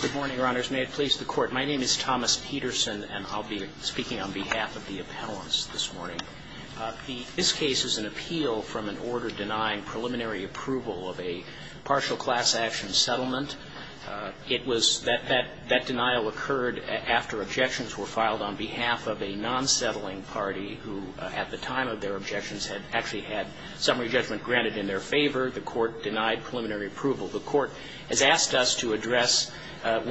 Good morning, Your Honors. May it please the Court. My name is Thomas Peterson, and I'll be speaking on behalf of the appellants this morning. This case is an appeal from an order denying preliminary approval of a partial class action settlement. It was that that denial occurred after objections were filed on behalf of a non-settling party who, at the time of their objections, had actually had summary judgment granted in their favor. The Court denied preliminary approval. The Court has asked us to address, at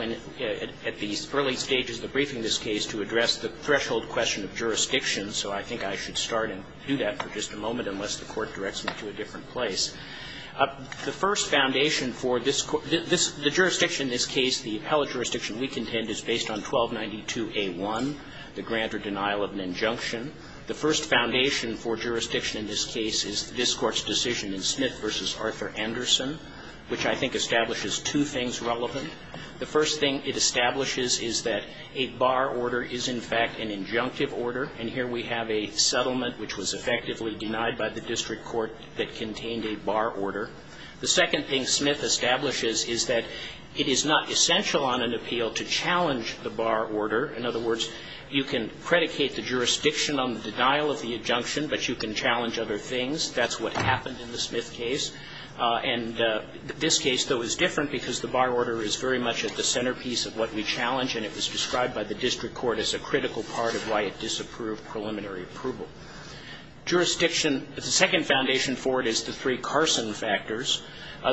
the early stages of the briefing of this case, to address the threshold question of jurisdiction. So I think I should start and do that for just a moment, unless the Court directs me to a different place. The first foundation for this Court the jurisdiction in this case, the appellate jurisdiction we contend, is based on 1292a1, the grant or denial of an injunction. The first foundation for jurisdiction in this case is this Court's decision in Smith v. Arthur Anderson, which I think establishes two things relevant. The first thing it establishes is that a bar order is, in fact, an injunctive order. And here we have a settlement which was effectively denied by the district court that contained a bar order. The second thing Smith establishes is that it is not essential on an appeal to challenge the bar order. In other words, you can predicate the jurisdiction on the denial of the injunction, but you can challenge other things. That's what happened in the Smith case. And this case, though, is different because the bar order is very much at the centerpiece of what we challenge, and it was described by the district court as a critical part of why it disapproved preliminary approval. Jurisdiction the second foundation for it is the three Carson factors.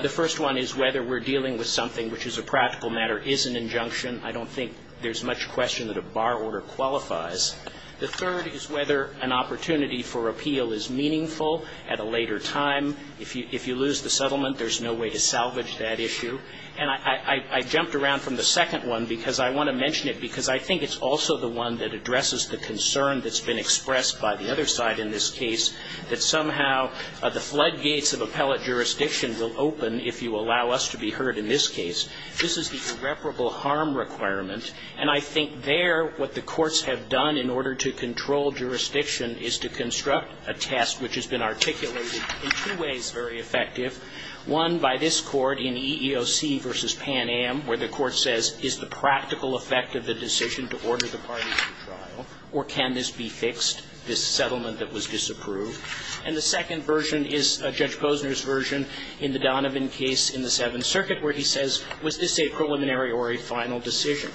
The first one is whether we're dealing with something which, as a practical matter, is an injunction. I don't think there's much question that a bar order qualifies. The third is whether an opportunity for appeal is meaningful at a later time. If you lose the settlement, there's no way to salvage that issue. And I jumped around from the second one because I want to mention it because I think it's also the one that addresses the concern that's been expressed by the other side in this case, that somehow the floodgates of appellate jurisdiction will open if you allow us to be heard in this case. This is the irreparable harm requirement. And I think there what the courts have done in order to control jurisdiction is to construct a test which has been articulated in two ways very effective. One by this Court in EEOC v. Pan Am, where the court says, is the practical effect of the decision to order the parties to trial, or can this be fixed, this settlement that was disapproved? And the second version is Judge Posner's version in the Donovan case in the Seventh Circuit where he says, was this a preliminary or a final decision?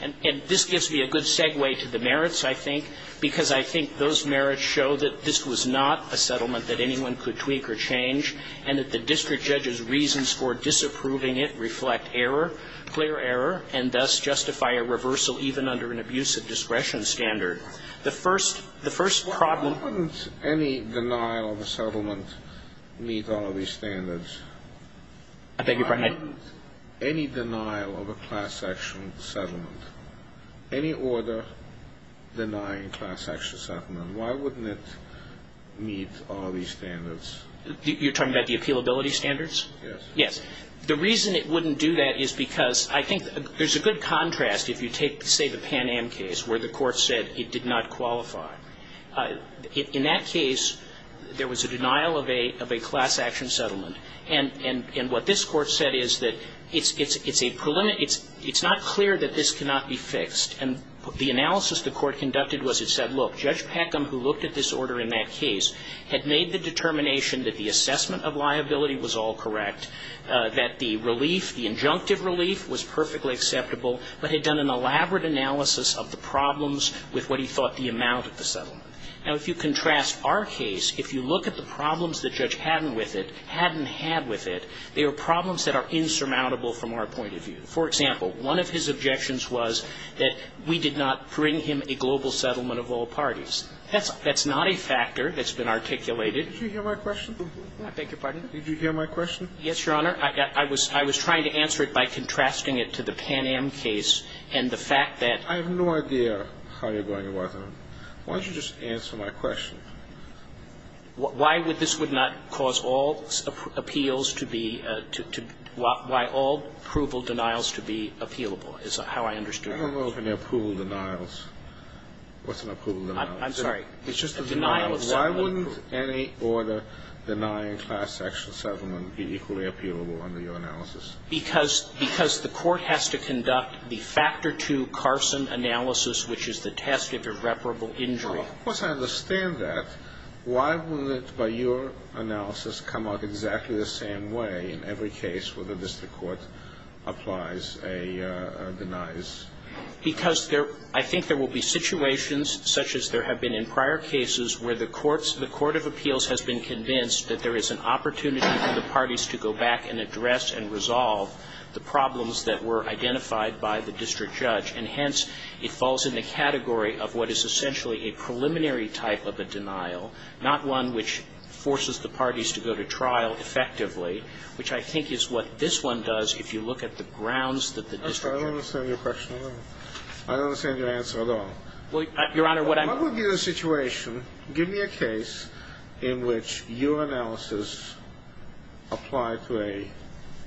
And this gives me a good segue to the merits, I think, because I think those merits show that this was not a settlement that anyone could tweak or change, and that the district judge's reasons for disapproving it reflect error, clear error, and thus justify a reversal even under an abusive discretion standard. The first the first problem I wouldn't any denial of a settlement meet all of these standards. I beg your pardon? I wouldn't any denial of a class-action settlement, any order denying class-action settlement, why wouldn't it meet all these standards? You're talking about the appealability standards? Yes. Yes. The reason it wouldn't do that is because I think there's a good contrast if you take, say, the Pan Am case where the court said it did not qualify. In that case, there was a denial of a class-action settlement. And what this court said is that it's not clear that this cannot be fixed. And the analysis the court conducted was it said, look, Judge Peckham, who looked at this order in that case, had made the determination that the assessment of liability was all correct, that the relief, the injunctive relief, was perfectly acceptable, but had done an elaborate analysis of the problems with what he thought the amount of the settlement. Now, if you contrast our case, if you look at the problems that Judge Haddon with it, Haddon had with it, they were problems that are insurmountable from our point of view. For example, one of his objections was that we did not bring him a global settlement of all parties. That's not a factor that's been articulated. Did you hear my question? I beg your pardon? Did you hear my question? Yes, Your Honor. I was trying to answer it by contrasting it to the Pan Am case and the fact that I have no idea how you're going to answer it. Why don't you just answer my question? Why would this not cause all appeals to be to be why all approval denials to be appealable is how I understood it. I don't know if any approval denials. What's an approval denial? I'm sorry. It's just a denial of settlement approval. Why wouldn't any order denying class section settlement be equally appealable under your analysis? Because the court has to conduct the Factor II Carson analysis, which is the test of irreparable injury. Well, of course, I understand that. Why wouldn't, by your analysis, come out exactly the same way in every case where the district court applies a denies? Because there I think there will be situations such as there have been in prior cases where the courts the court of appeals has been convinced that there is an opportunity for the parties to go back and address and resolve the problems that were identified by the district judge. And hence, it falls in the category of what is essentially a preliminary type of a denial, not one which forces the parties to go to trial effectively, which I think is what this one does if you look at the grounds that the district. I don't understand your question at all. I don't understand your answer at all. Well, Your Honor, what I'm. What would be the situation, give me a case in which your analysis applied to a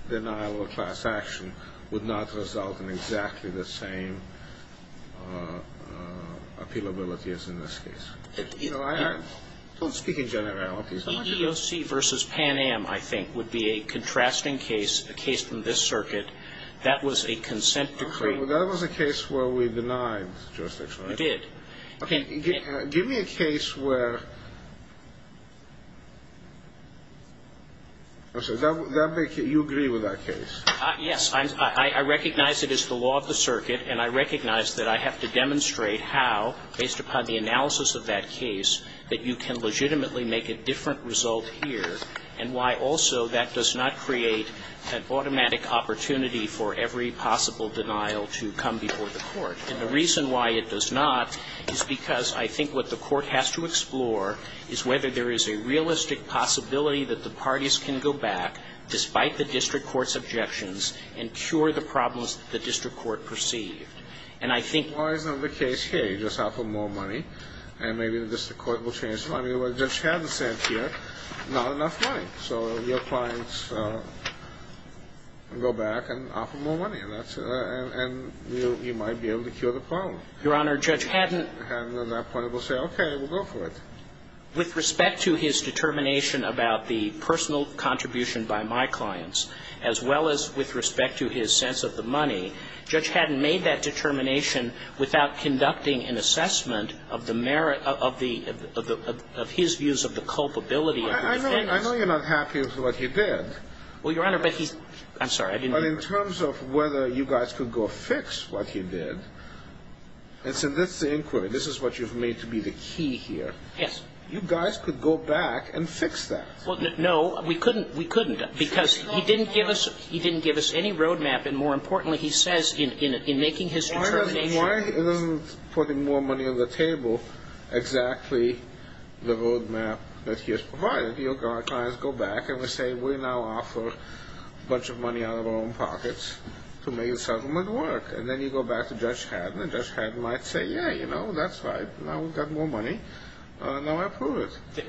denial of class action would not result in exactly the same appealability as in this case. You know, I don't speak in generalities. EEOC versus Pan Am, I think, would be a contrasting case, a case from this circuit. That was a consent decree. That was a case where we denied jurisdiction. You did. Okay, give me a case where. Okay, you agree with that case. Yes, I recognize it is the law of the circuit, and I recognize that I have to demonstrate how, based upon the analysis of that case, that you can legitimately make a different result here, and why also that does not create an automatic opportunity for every possible denial to come before the court. And the reason why it does not is because I think what the court has to explore is whether there is a realistic possibility that the parties can go back, despite the district court's objections, and cure the problems that the district court perceived. And I think. Why isn't the case here? You just offer more money, and maybe the district court will change the money. Well, the judge has a sense here, not enough money. So your clients go back and offer more money, and that's. And you might be able to cure the problem. Your Honor, Judge Haddon. And at that point, we'll say, okay, we'll go for it. With respect to his determination about the personal contribution by my clients, as well as with respect to his sense of the money, Judge Haddon made that determination without conducting an assessment of the merit of the, of his views of the culpability of the defendants. I know you're not happy with what he did. I'm sorry, I didn't mean. But in terms of whether you guys could go fix what he did, and so that's the inquiry. This is what you've made to be the key here. Yes. You guys could go back and fix that. Well, no, we couldn't. We couldn't. Because he didn't give us, he didn't give us any road map. And more importantly, he says in, in, in making his determination. Why, why isn't putting more money on the table exactly the road map that he has provided? You know, our clients go back and they say, we now offer a bunch of money out of our own pockets to make a settlement work. And then you go back to Judge Haddon, and Judge Haddon might say, yeah, you know, that's right, now we've got more money, now I approve it.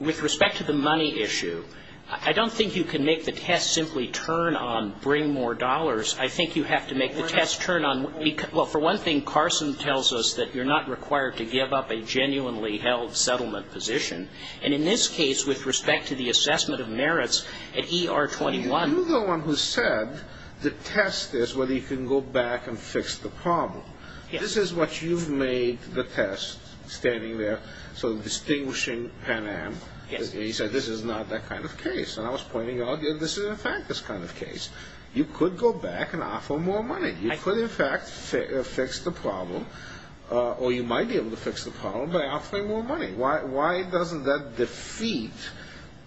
With respect to the money issue, I don't think you can make the test simply turn on bring more dollars. I think you have to make the test turn on, well, for one thing, Carson tells us that you're not required to give up a genuinely held settlement position. And in this case, with respect to the assessment of merits, at ER 21. You're the one who said the test is whether you can go back and fix the problem. This is what you've made the test, standing there, sort of distinguishing Pan Am, he said this is not that kind of case. And I was pointing out, this is in fact this kind of case. You could go back and offer more money. You could in fact fix the problem, or you might be able to fix the problem by offering more money. Why doesn't that defeat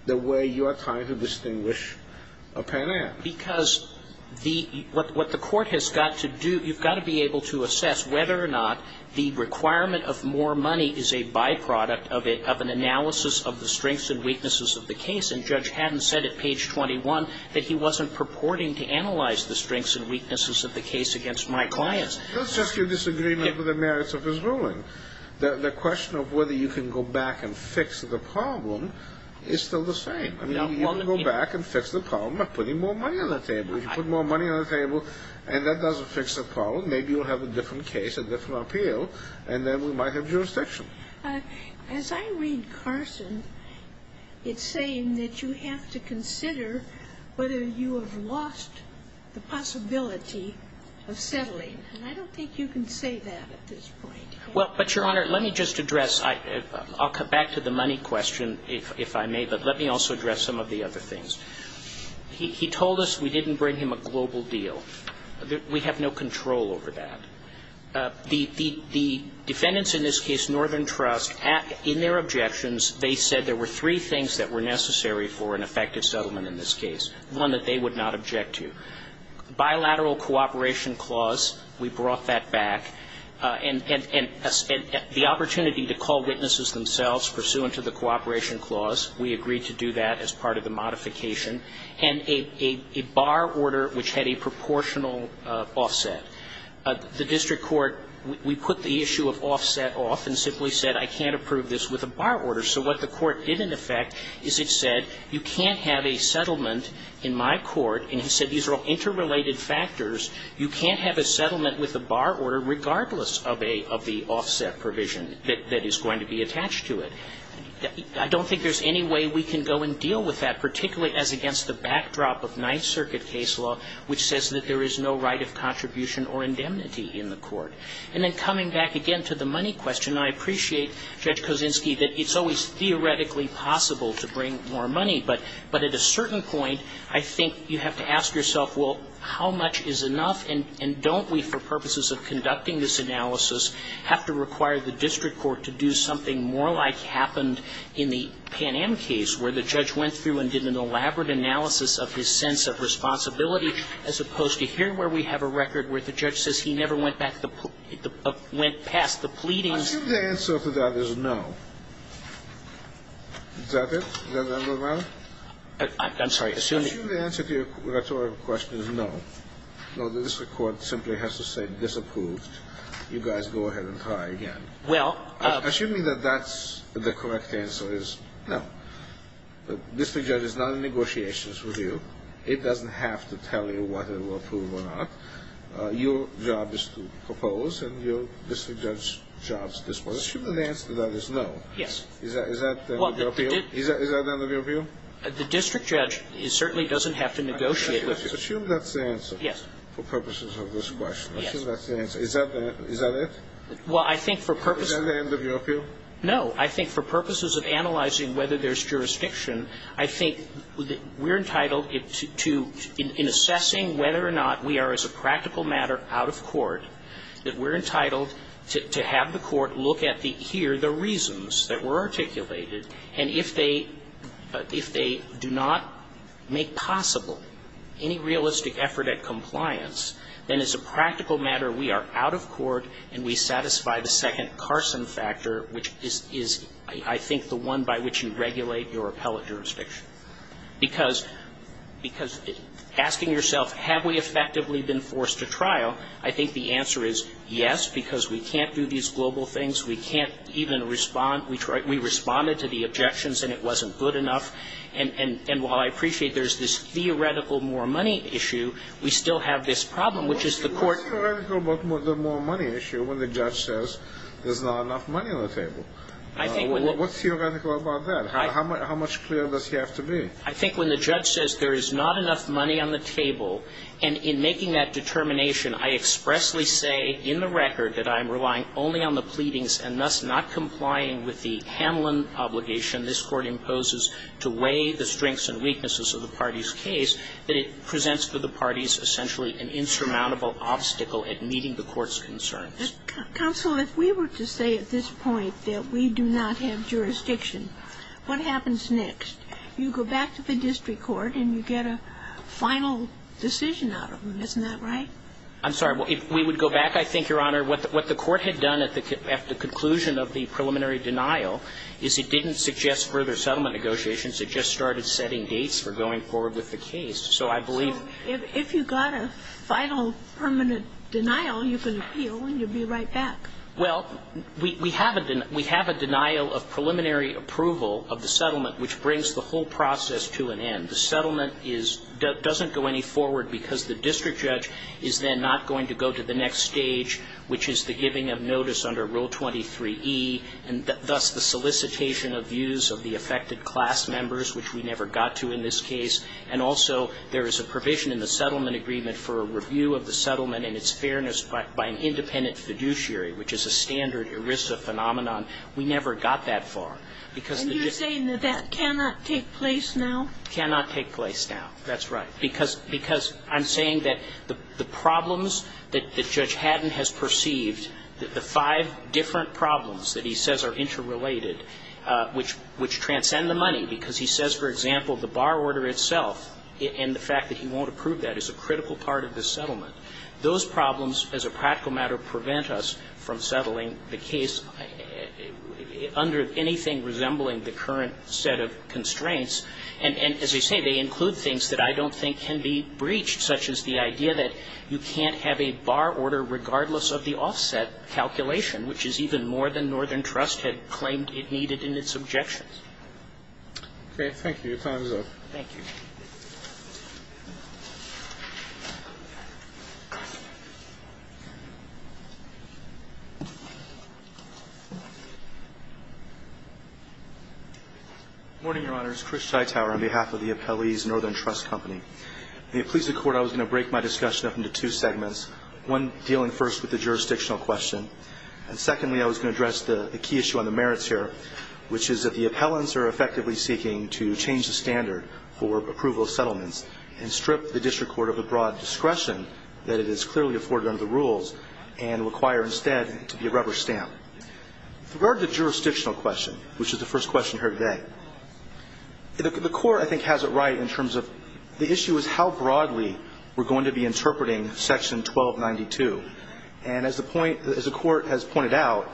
the way you are trying to distinguish a Pan Am? Because what the court has got to do, you've got to be able to assess whether or not the requirement of more money is a byproduct of an analysis of the strengths and weaknesses of the case. And Judge Haddon said at page 21 that he wasn't purporting to analyze the strengths and weaknesses of the case against my clients. That's just your disagreement with the merits of his ruling. The question of whether you can go back and fix the problem is still the same. You can go back and fix the problem by putting more money on the table. If you put more money on the table and that doesn't fix the problem, maybe you'll have a different case, a different appeal, and then we might have jurisdiction. As I read Carson, it's saying that you have to consider whether you have lost the possibility of settling. And I don't think you can say that at this point. Let me just address, I'll come back to the money question if I may, but let me also address some of the other things. He told us we didn't bring him a global deal. We have no control over that. The defendants in this case, Northern Trust, in their objections, they said there were three things that were necessary for an effective settlement in this case, one that they would not object to. Bilateral cooperation clause, we brought that back. And the opportunity to call witnesses themselves pursuant to the cooperation clause, we agreed to do that as part of the modification. And a bar order which had a proportional offset. The district court, we put the issue of offset off and simply said, I can't approve this with a bar order. So what the court did in effect is it said, you can't have a settlement in my court, and he said these are all interrelated factors. You can't have a settlement with a bar order regardless of the offset provision that is going to be attached to it. I don't think there's any way we can go and deal with that, particularly as against the backdrop of Ninth Circuit case law, which says that there is no right of contribution or indemnity in the court. And then coming back again to the money question, I appreciate Judge Kosinski that it's always theoretically possible to bring more money, but at a certain point I think you have to ask yourself, well, how much is enough, and don't we, for purposes of conducting this analysis, have to require the district court to do something more like happened in the Pan Am case, where the judge went through and did an elaborate analysis of his sense of responsibility, as opposed to here where we have a record where the judge says he never went back, went past the pleadings. I assume the answer to that is no. Is that it? Does that make no matter? I'm sorry. I assume the answer to your question is no. No, the district court simply has to say disapproved. You guys go ahead and try again. Well, I assume that that's the correct answer is no. The district judge is not in negotiations with you. It doesn't have to tell you whether it will approve or not. Your job is to propose, and your district judge's job is to dispose. I assume the answer to that is no. Is that the end of your view? Is that the end of your view? The district judge certainly doesn't have to negotiate with you. I assume that's the answer. Yes. For purposes of this question. I assume that's the answer. Is that the end? Is that it? Well, I think for purposes of analyzing whether there's jurisdiction, I think we're entitled to, in assessing whether or not we are, as a practical matter, out of court, that we're entitled to have the court look at the here, the reasons that were articulated, and if they do not make possible any realistic effort at compliance, then as a practical matter, we are out of court, and we satisfy the second Carson factor, which is, I think, the one by which you regulate your appellate jurisdiction. Because asking yourself, have we effectively been forced to trial? I think the answer is yes, because we can't do these global things. We can't even respond. We responded to the objections, and it wasn't good enough. And while I appreciate there's this theoretical more money issue, we still have this problem, which is the court- What's theoretical about the more money issue when the judge says there's not enough money on the table? I think when- What's theoretical about that? How much clearer does he have to be? I think when the judge says there is not enough money on the table, and in making that determination, I expressly say in the record that I'm relying only on the pleading of the parties, and thus not complying with the Hamlin obligation this Court imposes to weigh the strengths and weaknesses of the party's case, that it presents to the parties essentially an insurmountable obstacle at meeting the Court's concerns. Counsel, if we were to say at this point that we do not have jurisdiction, what happens next? You go back to the district court, and you get a final decision out of them, isn't that right? I'm sorry. We would go back, I think, Your Honor. What the Court had done at the conclusion of the preliminary denial is it didn't suggest further settlement negotiations. It just started setting dates for going forward with the case. So I believe- So if you got a final permanent denial, you can appeal, and you'd be right back. Well, we have a denial of preliminary approval of the settlement, which brings the whole process to an end. The settlement doesn't go any forward because the district judge is then not going to go to the next stage, which is the giving of notice under Rule 23e, and thus the solicitation of views of the affected class members, which we never got to in this case. And also, there is a provision in the settlement agreement for a review of the settlement and its fairness by an independent fiduciary, which is a standard ERISA phenomenon. We never got that far. And you're saying that that cannot take place now? Cannot take place now. That's right. Because I'm saying that the problems that Judge Haddon has perceived, the five different problems that he says are interrelated, which transcend the money, because he says, for example, the bar order itself and the fact that he won't approve that is a critical part of the settlement, those problems, as a practical matter, prevent us from settling the case under anything resembling the current set of constraints. And as I say, they include things that I don't think can be breached, such as the idea that you can't have a bar order regardless of the offset calculation, which is even more than Northern Trust had claimed it needed in its objections. Okay. Thank you. Your time is up. Thank you. Good morning, Your Honors. Chris Tytower on behalf of the Appellee's Northern Trust Company. In the appellees' court, I was going to break my discussion up into two segments, one dealing first with the jurisdictional question, and secondly, I was going to address the key issue on the merits here, which is that the appellants are effectively seeking to change the standard for approval of settlements and strip the district court of the broad discretion that it is clearly afforded under the rules and require instead to be a rubber stamp. With regard to the jurisdictional question, which is the first question here today, the court, I think, has it right in terms of the issue is how broadly we're going to be interpreting Section 1292. And as the point the court has pointed out,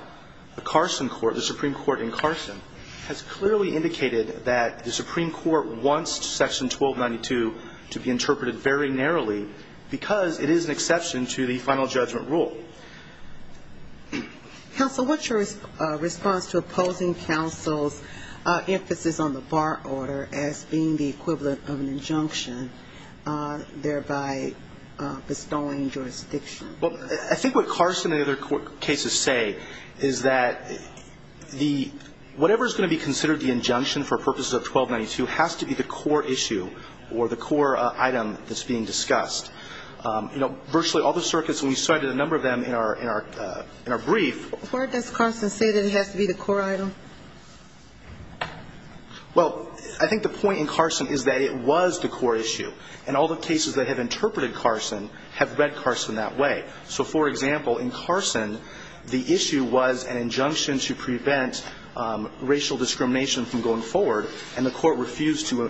the Carson court, the Supreme Court in Carson, has clearly indicated that the Supreme Court wants Section 1292 to be interpreted very narrowly because it is an exception to the final judgment rule. Counsel, what's your response to opposing counsel's emphasis on the bar order as being the equivalent of an injunction, thereby bestowing jurisdiction? Well, I think what Carson and other cases say is that the – whatever is going to be considered the injunction for purposes of 1292 has to be the core issue or the core item that's being discussed. You know, virtually all the circuits, and we cited a number of them in our – in our brief – Where does Carson say that it has to be the core item? Well, I think the point in Carson is that it was the core issue. And all the cases that have interpreted Carson have read Carson that way. So, for example, in Carson, the issue was an injunction to prevent racial discrimination from going forward, and the court refused to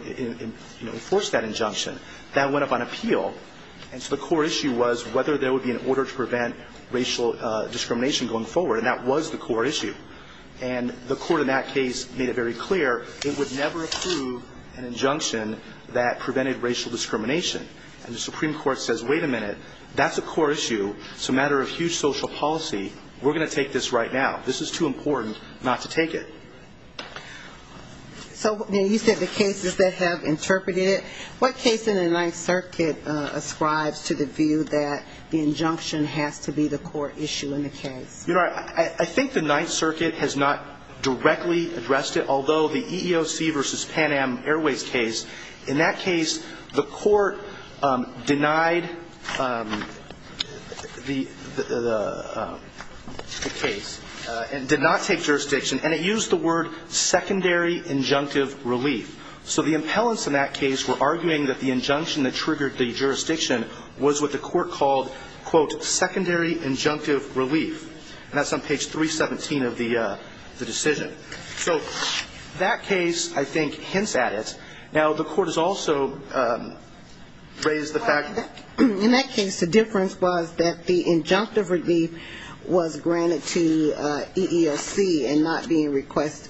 enforce that injunction. That went up on appeal. And so the core issue was whether there would be an order to prevent racial discrimination going forward, and that was the core issue. And the court in that case made it very clear it would never approve an injunction that prevented racial discrimination. And the Supreme Court says, wait a minute, that's a core issue. It's a matter of huge social policy. We're going to take this right now. This is too important not to take it. So you said the cases that have interpreted it. What case in the Ninth Circuit ascribes to the view that the injunction has to be the core issue in the case? You know, I think the Ninth Circuit has not directly addressed it, although the EEOC v. In that case, the court denied the case and did not take jurisdiction, and it used the word secondary injunctive relief. So the impellents in that case were arguing that the injunction that triggered the jurisdiction was what the court called, quote, secondary injunctive relief. And that's on page 317 of the decision. So that case, I think, hints at it. Now, the court has also raised the fact that... In that case, the difference was that the injunctive relief was granted to EEOC and not being requested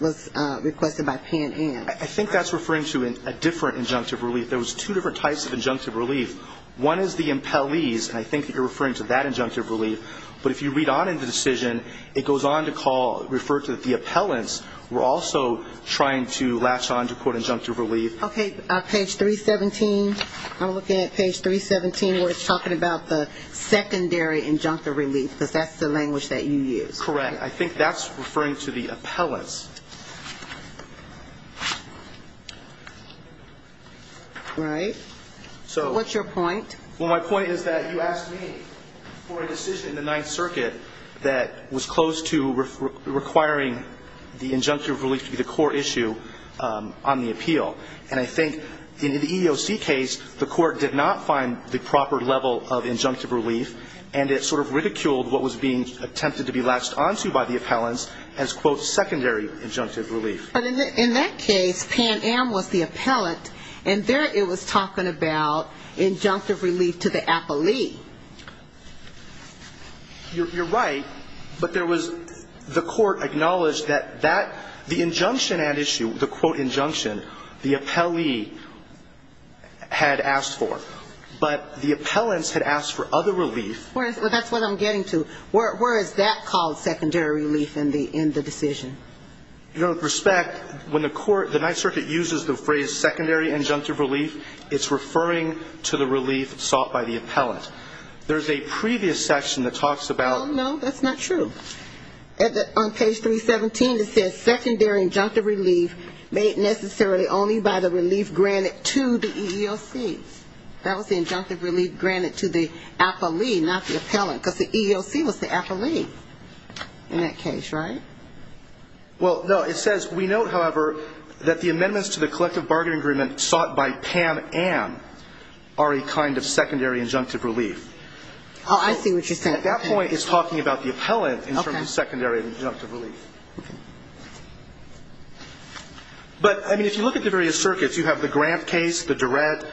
by Pan Am. I think that's referring to a different injunctive relief. There was two different types of injunctive relief. One is the impellees, and I think that you're referring to that injunctive relief. But if you read on in the decision, it goes on to call, refer to the appellants were also trying to latch on to, quote, injunctive relief. Okay, on page 317, I'm looking at page 317 where it's talking about the secondary injunctive relief, because that's the language that you used. Correct. I think that's referring to the appellants. Right. So what's your point? Well, my point is that you asked me for a decision in the Ninth Circuit that was close to requiring the injunctive relief to be the core issue on the appeal. And I think in the EEOC case, the court did not find the proper level of injunctive relief, and it sort of ridiculed what was being attempted to be latched on to by the appellants as, quote, secondary injunctive relief. But in that case, Pan Am was the appellant, and there it was talking about injunctive relief to the appellee. You're right, but there was the court acknowledged that that the injunction at issue, the, quote, injunction, the appellee had asked for, but the appellants had asked for other relief. Well, that's what I'm getting to. Where is that called secondary relief in the decision? You know, with respect, when the court, the Ninth Circuit uses the phrase secondary injunctive relief, it's referring to the relief sought by the appellant. There's a previous section that talks about... Oh, no, that's not true. On page 317, it says secondary injunctive relief made necessarily only by the relief granted to the EEOC. That was the injunctive relief granted to the appellee, not the appellant, because the EEOC was the appellee in that case, right? Well, no, it says, we note, however, that the amendments to the collective bargaining agreement sought by Pam Ann are a kind of secondary injunctive relief. Oh, I see what you're saying. At that point, it's talking about the appellant in terms of secondary injunctive relief. Okay. But, I mean, if you look at the various circuits, you have the Grant case, the Durrett,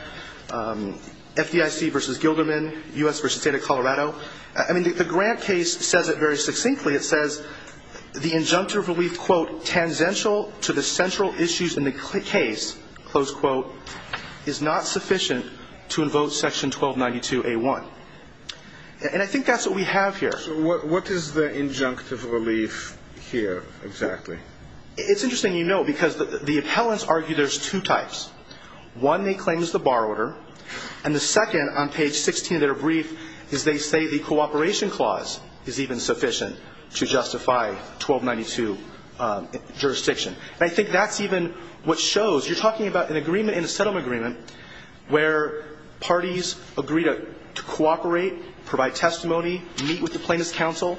FDIC v. Gilderman, U.S. v. State of Colorado. I mean, the Grant case says it very succinctly. It says the injunctive relief, quote, tangential to the central issues in the case, close quote, is not sufficient to invoke section 1292A1. And I think that's what we have here. So what is the injunctive relief here exactly? It's interesting, you know, because the appellants argue there's two types. One, they claim is the bar order. And the second, on page 16 of their brief, is they say the cooperation clause is even sufficient to justify 1292 jurisdiction. And I think that's even what shows you're talking about an agreement in a settlement agreement where parties agree to cooperate, provide testimony, meet with the plaintiff's counsel.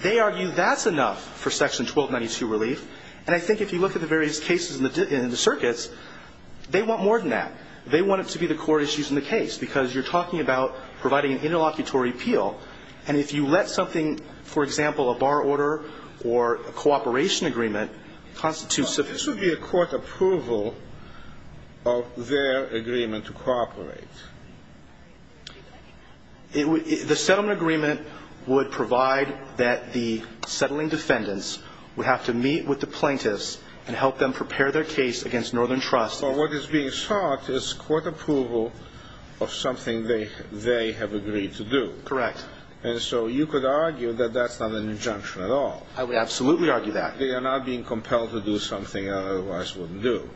They argue that's enough for section 1292 relief. And I think if you look at the various cases in the circuits, they want more than that. They want it to be the core issues in the case because you're talking about providing an interlocutory appeal. And if you let something, for example, a bar order or a cooperation agreement, this would be a court approval of their agreement to cooperate. The settlement agreement would provide that the settling defendants would have to meet with the plaintiffs and help them prepare their case against Northern Trust. So what is being sought is court approval of something they have agreed to do. Correct. And so you could argue that that's not an injunction at all. I would absolutely argue that. They are not being compelled to do something they otherwise wouldn't do.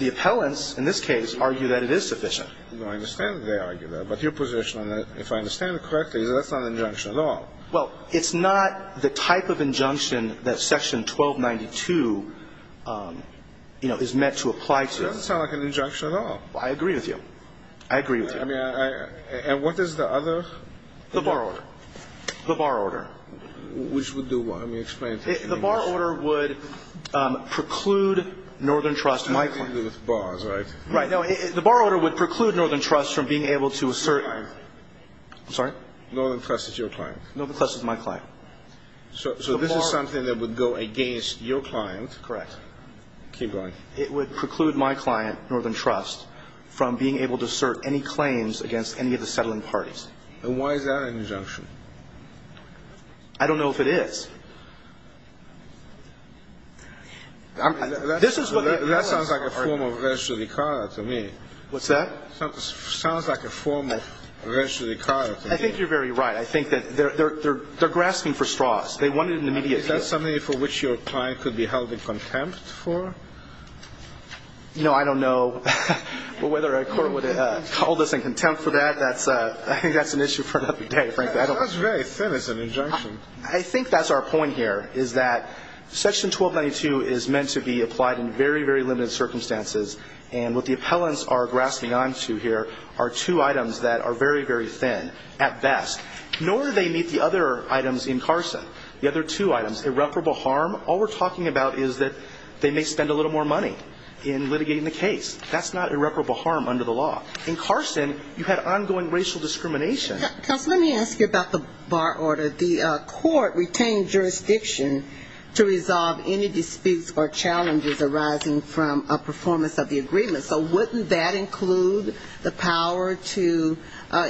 The appellants, in this case, argue that it is sufficient. I understand that they argue that. But your position on that, if I understand it correctly, is that's not an injunction at all. Well, it's not the type of injunction that section 1292, you know, is meant to apply to. That doesn't sound like an injunction at all. I agree with you. I agree with you. I mean, and what is the other? The bar order. The bar order. Which would do what? Let me explain it to you in English. The bar order would preclude Northern Trust and my client. I'm dealing with bars, right? Right. No, the bar order would preclude Northern Trust from being able to assert. Your client. I'm sorry? Northern Trust is your client. Northern Trust is my client. So this is something that would go against your client. Correct. Keep going. It would preclude my client, Northern Trust, from being able to assert any claims against any of the settling parties. And why is that an injunction? I don't know if it is. I mean, that sounds like a form of racial equality to me. What's that? Sounds like a form of racial equality. I think you're very right. I think that they're grasping for straws. They want it in the immediate future. Is that something for which your client could be held in contempt for? No, I don't know whether a court would hold us in contempt for that. I think that's an issue for another day, frankly. That's very thin as an injunction. I think that's our point. Our point here is that Section 1292 is meant to be applied in very, very limited circumstances. And what the appellants are grasping onto here are two items that are very, very thin at best. Nor do they meet the other items in Carson. The other two items, irreparable harm, all we're talking about is that they may spend a little more money in litigating the case. That's not irreparable harm under the law. In Carson, you had ongoing racial discrimination. Counsel, let me ask you about the bar order. The court retained jurisdiction to resolve any disputes or challenges arising from a performance of the agreement. So wouldn't that include the power to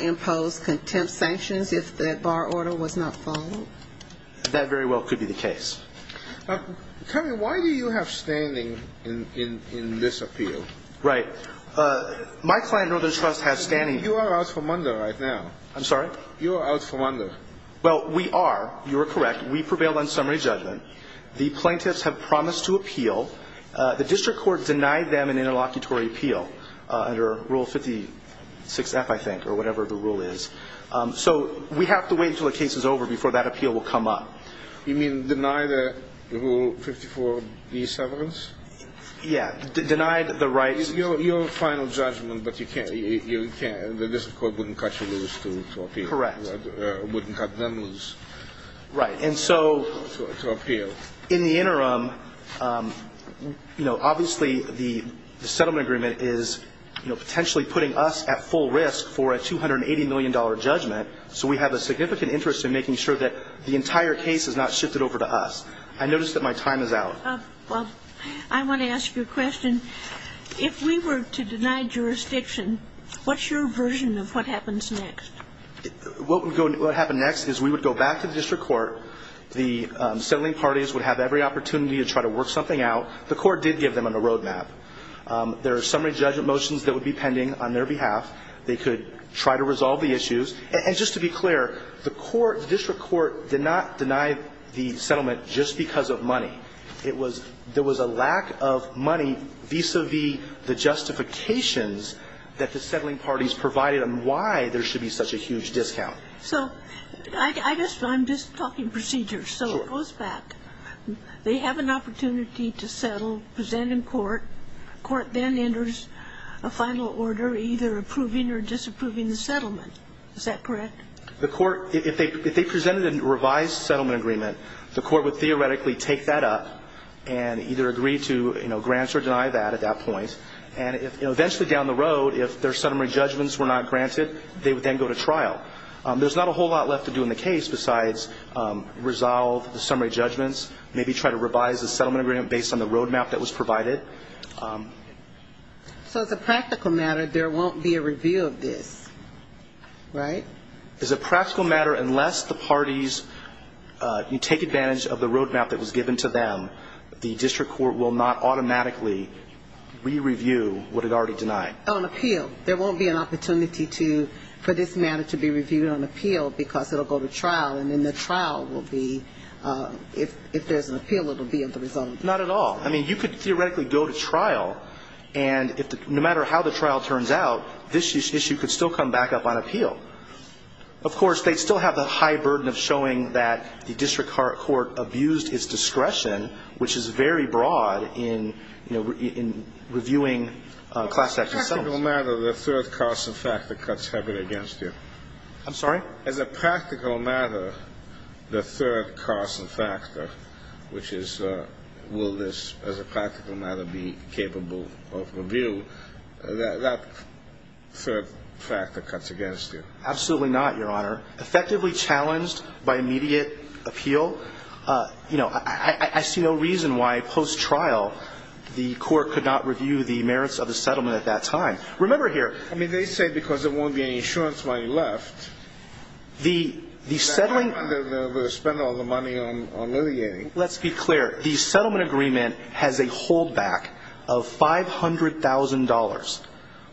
impose contempt sanctions if that bar order was not followed? That very well could be the case. Terry, why do you have standing in this appeal? Right. My client Northern Trust has standing. You are out for Munda right now. I'm sorry? You are out for Munda. Well, we are. You are correct. We prevail on summary judgment. The plaintiffs have promised to appeal. The district court denied them an interlocutory appeal under Rule 56F, I think, or whatever the rule is. So we have to wait until the case is over before that appeal will come up. You mean deny the Rule 54B severance? Yeah. Denied the right. Your final judgment, but you can't. The district court wouldn't cut you loose to appeal. Correct. Wouldn't cut them loose to appeal. Right. And so in the interim, you know, obviously the settlement agreement is, you know, potentially putting us at full risk for a $280 million judgment. So we have a significant interest in making sure that the entire case is not shifted over to us. Well, I want to ask you a question. If we were to deny jurisdiction, what's your version of what happens next? What would happen next is we would go back to the district court. The settling parties would have every opportunity to try to work something out. The court did give them a roadmap. There are summary judgment motions that would be pending on their behalf. They could try to resolve the issues. And just to be clear, the court, the district court did not deny the settlement just because of money. It was, there was a lack of money vis-a-vis the justifications that the settling parties provided on why there should be such a huge discount. So I guess I'm just talking procedures. Sure. So it goes back. They have an opportunity to settle, present in court. The court then enters a final order either approving or disapproving the settlement. Is that correct? The court, if they presented a revised settlement agreement, the court would theoretically take that up and either agree to grant or deny that at that point. And eventually down the road, if their summary judgments were not granted, they would then go to trial. There's not a whole lot left to do in the case besides resolve the summary judgments, maybe try to revise the settlement agreement based on the roadmap that was provided. So as a practical matter, there won't be a review of this, right? As a practical matter, unless the parties take advantage of the roadmap that was given to them, the district court will not automatically re-review what it already denied. On appeal. There won't be an opportunity to, for this matter to be reviewed on appeal because it will go to trial. And then the trial will be, if there's an appeal, it will be of the result. Not at all. I mean, you could theoretically go to trial and no matter how the trial turns out, this issue could still come back up on appeal. Of course, they'd still have the high burden of showing that the district court abused its discretion, which is very broad in reviewing class action settlements. As a practical matter, the third cause and factor cuts heavily against you. I'm sorry? As a practical matter, the third cause and factor, which is will this as a practical matter be capable of review, that third factor cuts against you. Absolutely not, Your Honor. Effectively challenged by immediate appeal. You know, I see no reason why post-trial the court could not review the merits of the settlement at that time. Remember here. I mean, they say because there won't be any insurance money left. The settling. They're going to spend all the money on litigating. Let's be clear. The settlement agreement has a hold back of $500,000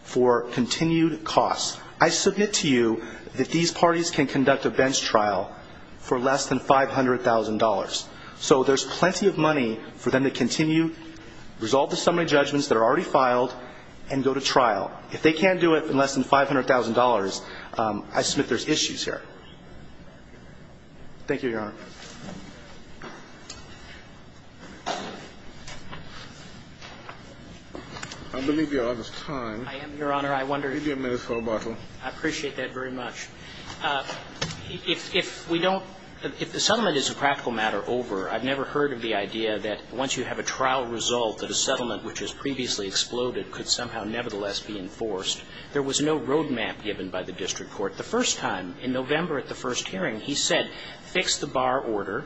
for continued costs. I submit to you that these parties can conduct a bench trial for less than $500,000. So there's plenty of money for them to continue, resolve the summary judgments that are already filed, and go to trial. If they can't do it for less than $500,000, I submit there's issues here. Thank you, Your Honor. I believe Your Honor's time. I am, Your Honor. I wonder. Give me a minute for a bottle. I appreciate that very much. If we don't, if the settlement is a practical matter, over. I've never heard of the idea that once you have a trial result, that a settlement which has previously exploded could somehow nevertheless be enforced. There was no road map given by the district court. The first time, in November at the first hearing, he said, fix the bar order.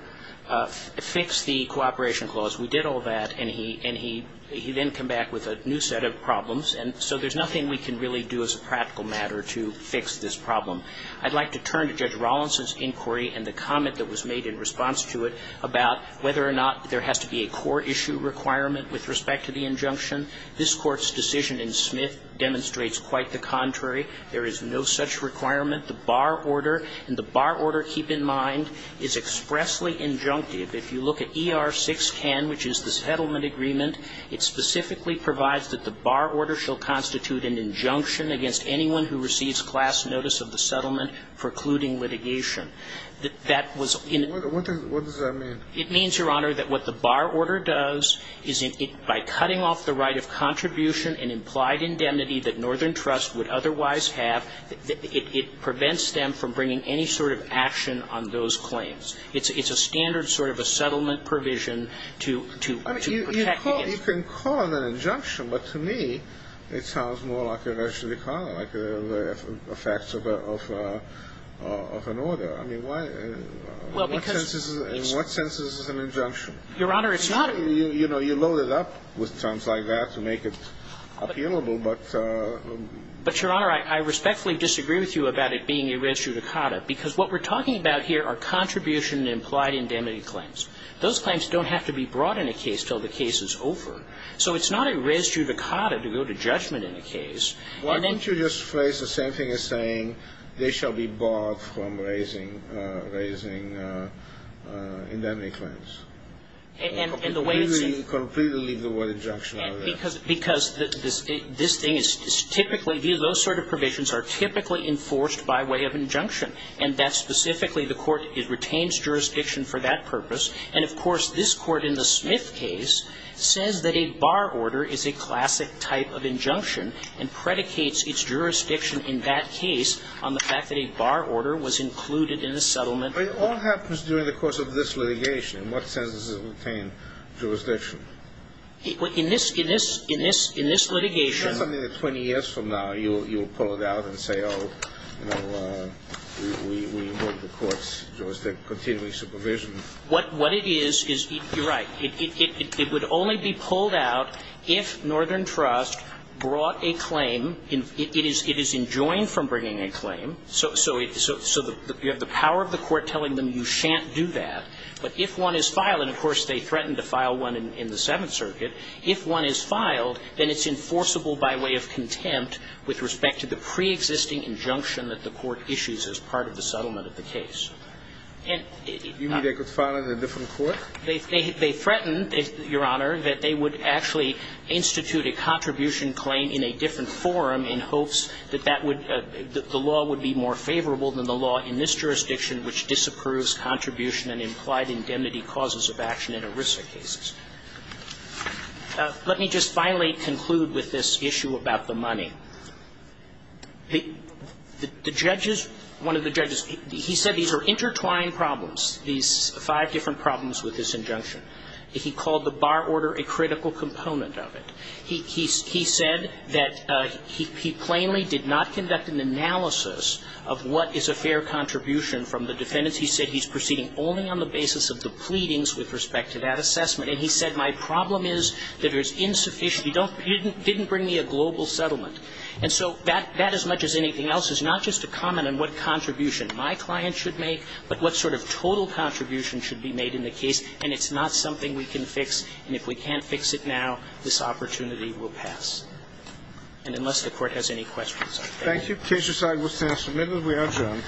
Fix the cooperation clause. We did all that. And he then came back with a new set of problems. And so there's nothing we can really do as a practical matter to fix this problem. I'd like to turn to Judge Rawlinson's inquiry and the comment that was made in response to it about whether or not there has to be a court issue requirement with respect to the injunction. This Court's decision in Smith demonstrates quite the contrary. There is no such requirement. The bar order, and the bar order, keep in mind, is expressly injunctive. If you look at ER 610, which is the settlement agreement, it specifically provides that the bar order shall constitute an injunction against anyone who receives class notice of the settlement precluding litigation. That was in. What does that mean? It means, Your Honor, that what the bar order does is by cutting off the right of contribution and implied indemnity that Northern Trust would otherwise have, it prevents them from bringing any sort of action on those claims. It's a standard sort of a settlement provision to protect against. I mean, you can call it an injunction. But to me, it sounds more like you're actually calling it like the facts of an order. I mean, why? Well, because. In what sense is this an injunction? Your Honor, it's not. You know, you load it up with terms like that to make it appealable. But. But, Your Honor, I respectfully disagree with you about it being a res judicata because what we're talking about here are contribution and implied indemnity claims. Those claims don't have to be brought in a case until the case is over. So it's not a res judicata to go to judgment in a case. Why don't you just phrase the same thing as saying they shall be barred from raising indemnity claims? And the way. Completely leave the word injunction out of that. Because this thing is typically. Those sort of provisions are typically enforced by way of injunction. And that's specifically the court. It retains jurisdiction for that purpose. And, of course, this Court in the Smith case says that a bar order is a classic type of injunction and predicates its jurisdiction in that case on the fact that a bar order was included in a settlement. But it all happens during the course of this litigation. In what sense does it retain jurisdiction? In this litigation. 20 years from now, you'll pull it out and say, oh, you know, we want the court's jurisdiction, continuing supervision. What it is, you're right, it would only be pulled out if Northern Trust brought a claim. It is enjoined from bringing a claim. So you have the power of the court telling them you shan't do that. But if one is filed, and, of course, they threaten to file one in the future, in the Seventh Circuit, if one is filed, then it's enforceable by way of contempt with respect to the preexisting injunction that the court issues as part of the settlement of the case. You mean they could file it in a different court? They threatened, Your Honor, that they would actually institute a contribution claim in a different forum in hopes that that would the law would be more favorable than the law in this jurisdiction, which disapproves contribution and implied indemnity causes of action in ERISA cases. Let me just finally conclude with this issue about the money. The judges, one of the judges, he said these are intertwined problems, these five different problems with this injunction. He called the bar order a critical component of it. He said that he plainly did not conduct an analysis of what is a fair contribution from the defendants. He said he's proceeding only on the basis of the pleadings with respect to that assessment. And he said, my problem is that there's insufficient. He didn't bring me a global settlement. And so that, as much as anything else, is not just a comment on what contribution my client should make, but what sort of total contribution should be made in the case, and it's not something we can fix. And if we can't fix it now, this opportunity will pass. And unless the Court has any questions, I thank you. Case resolved. We'll stand for a minute as we adjourn.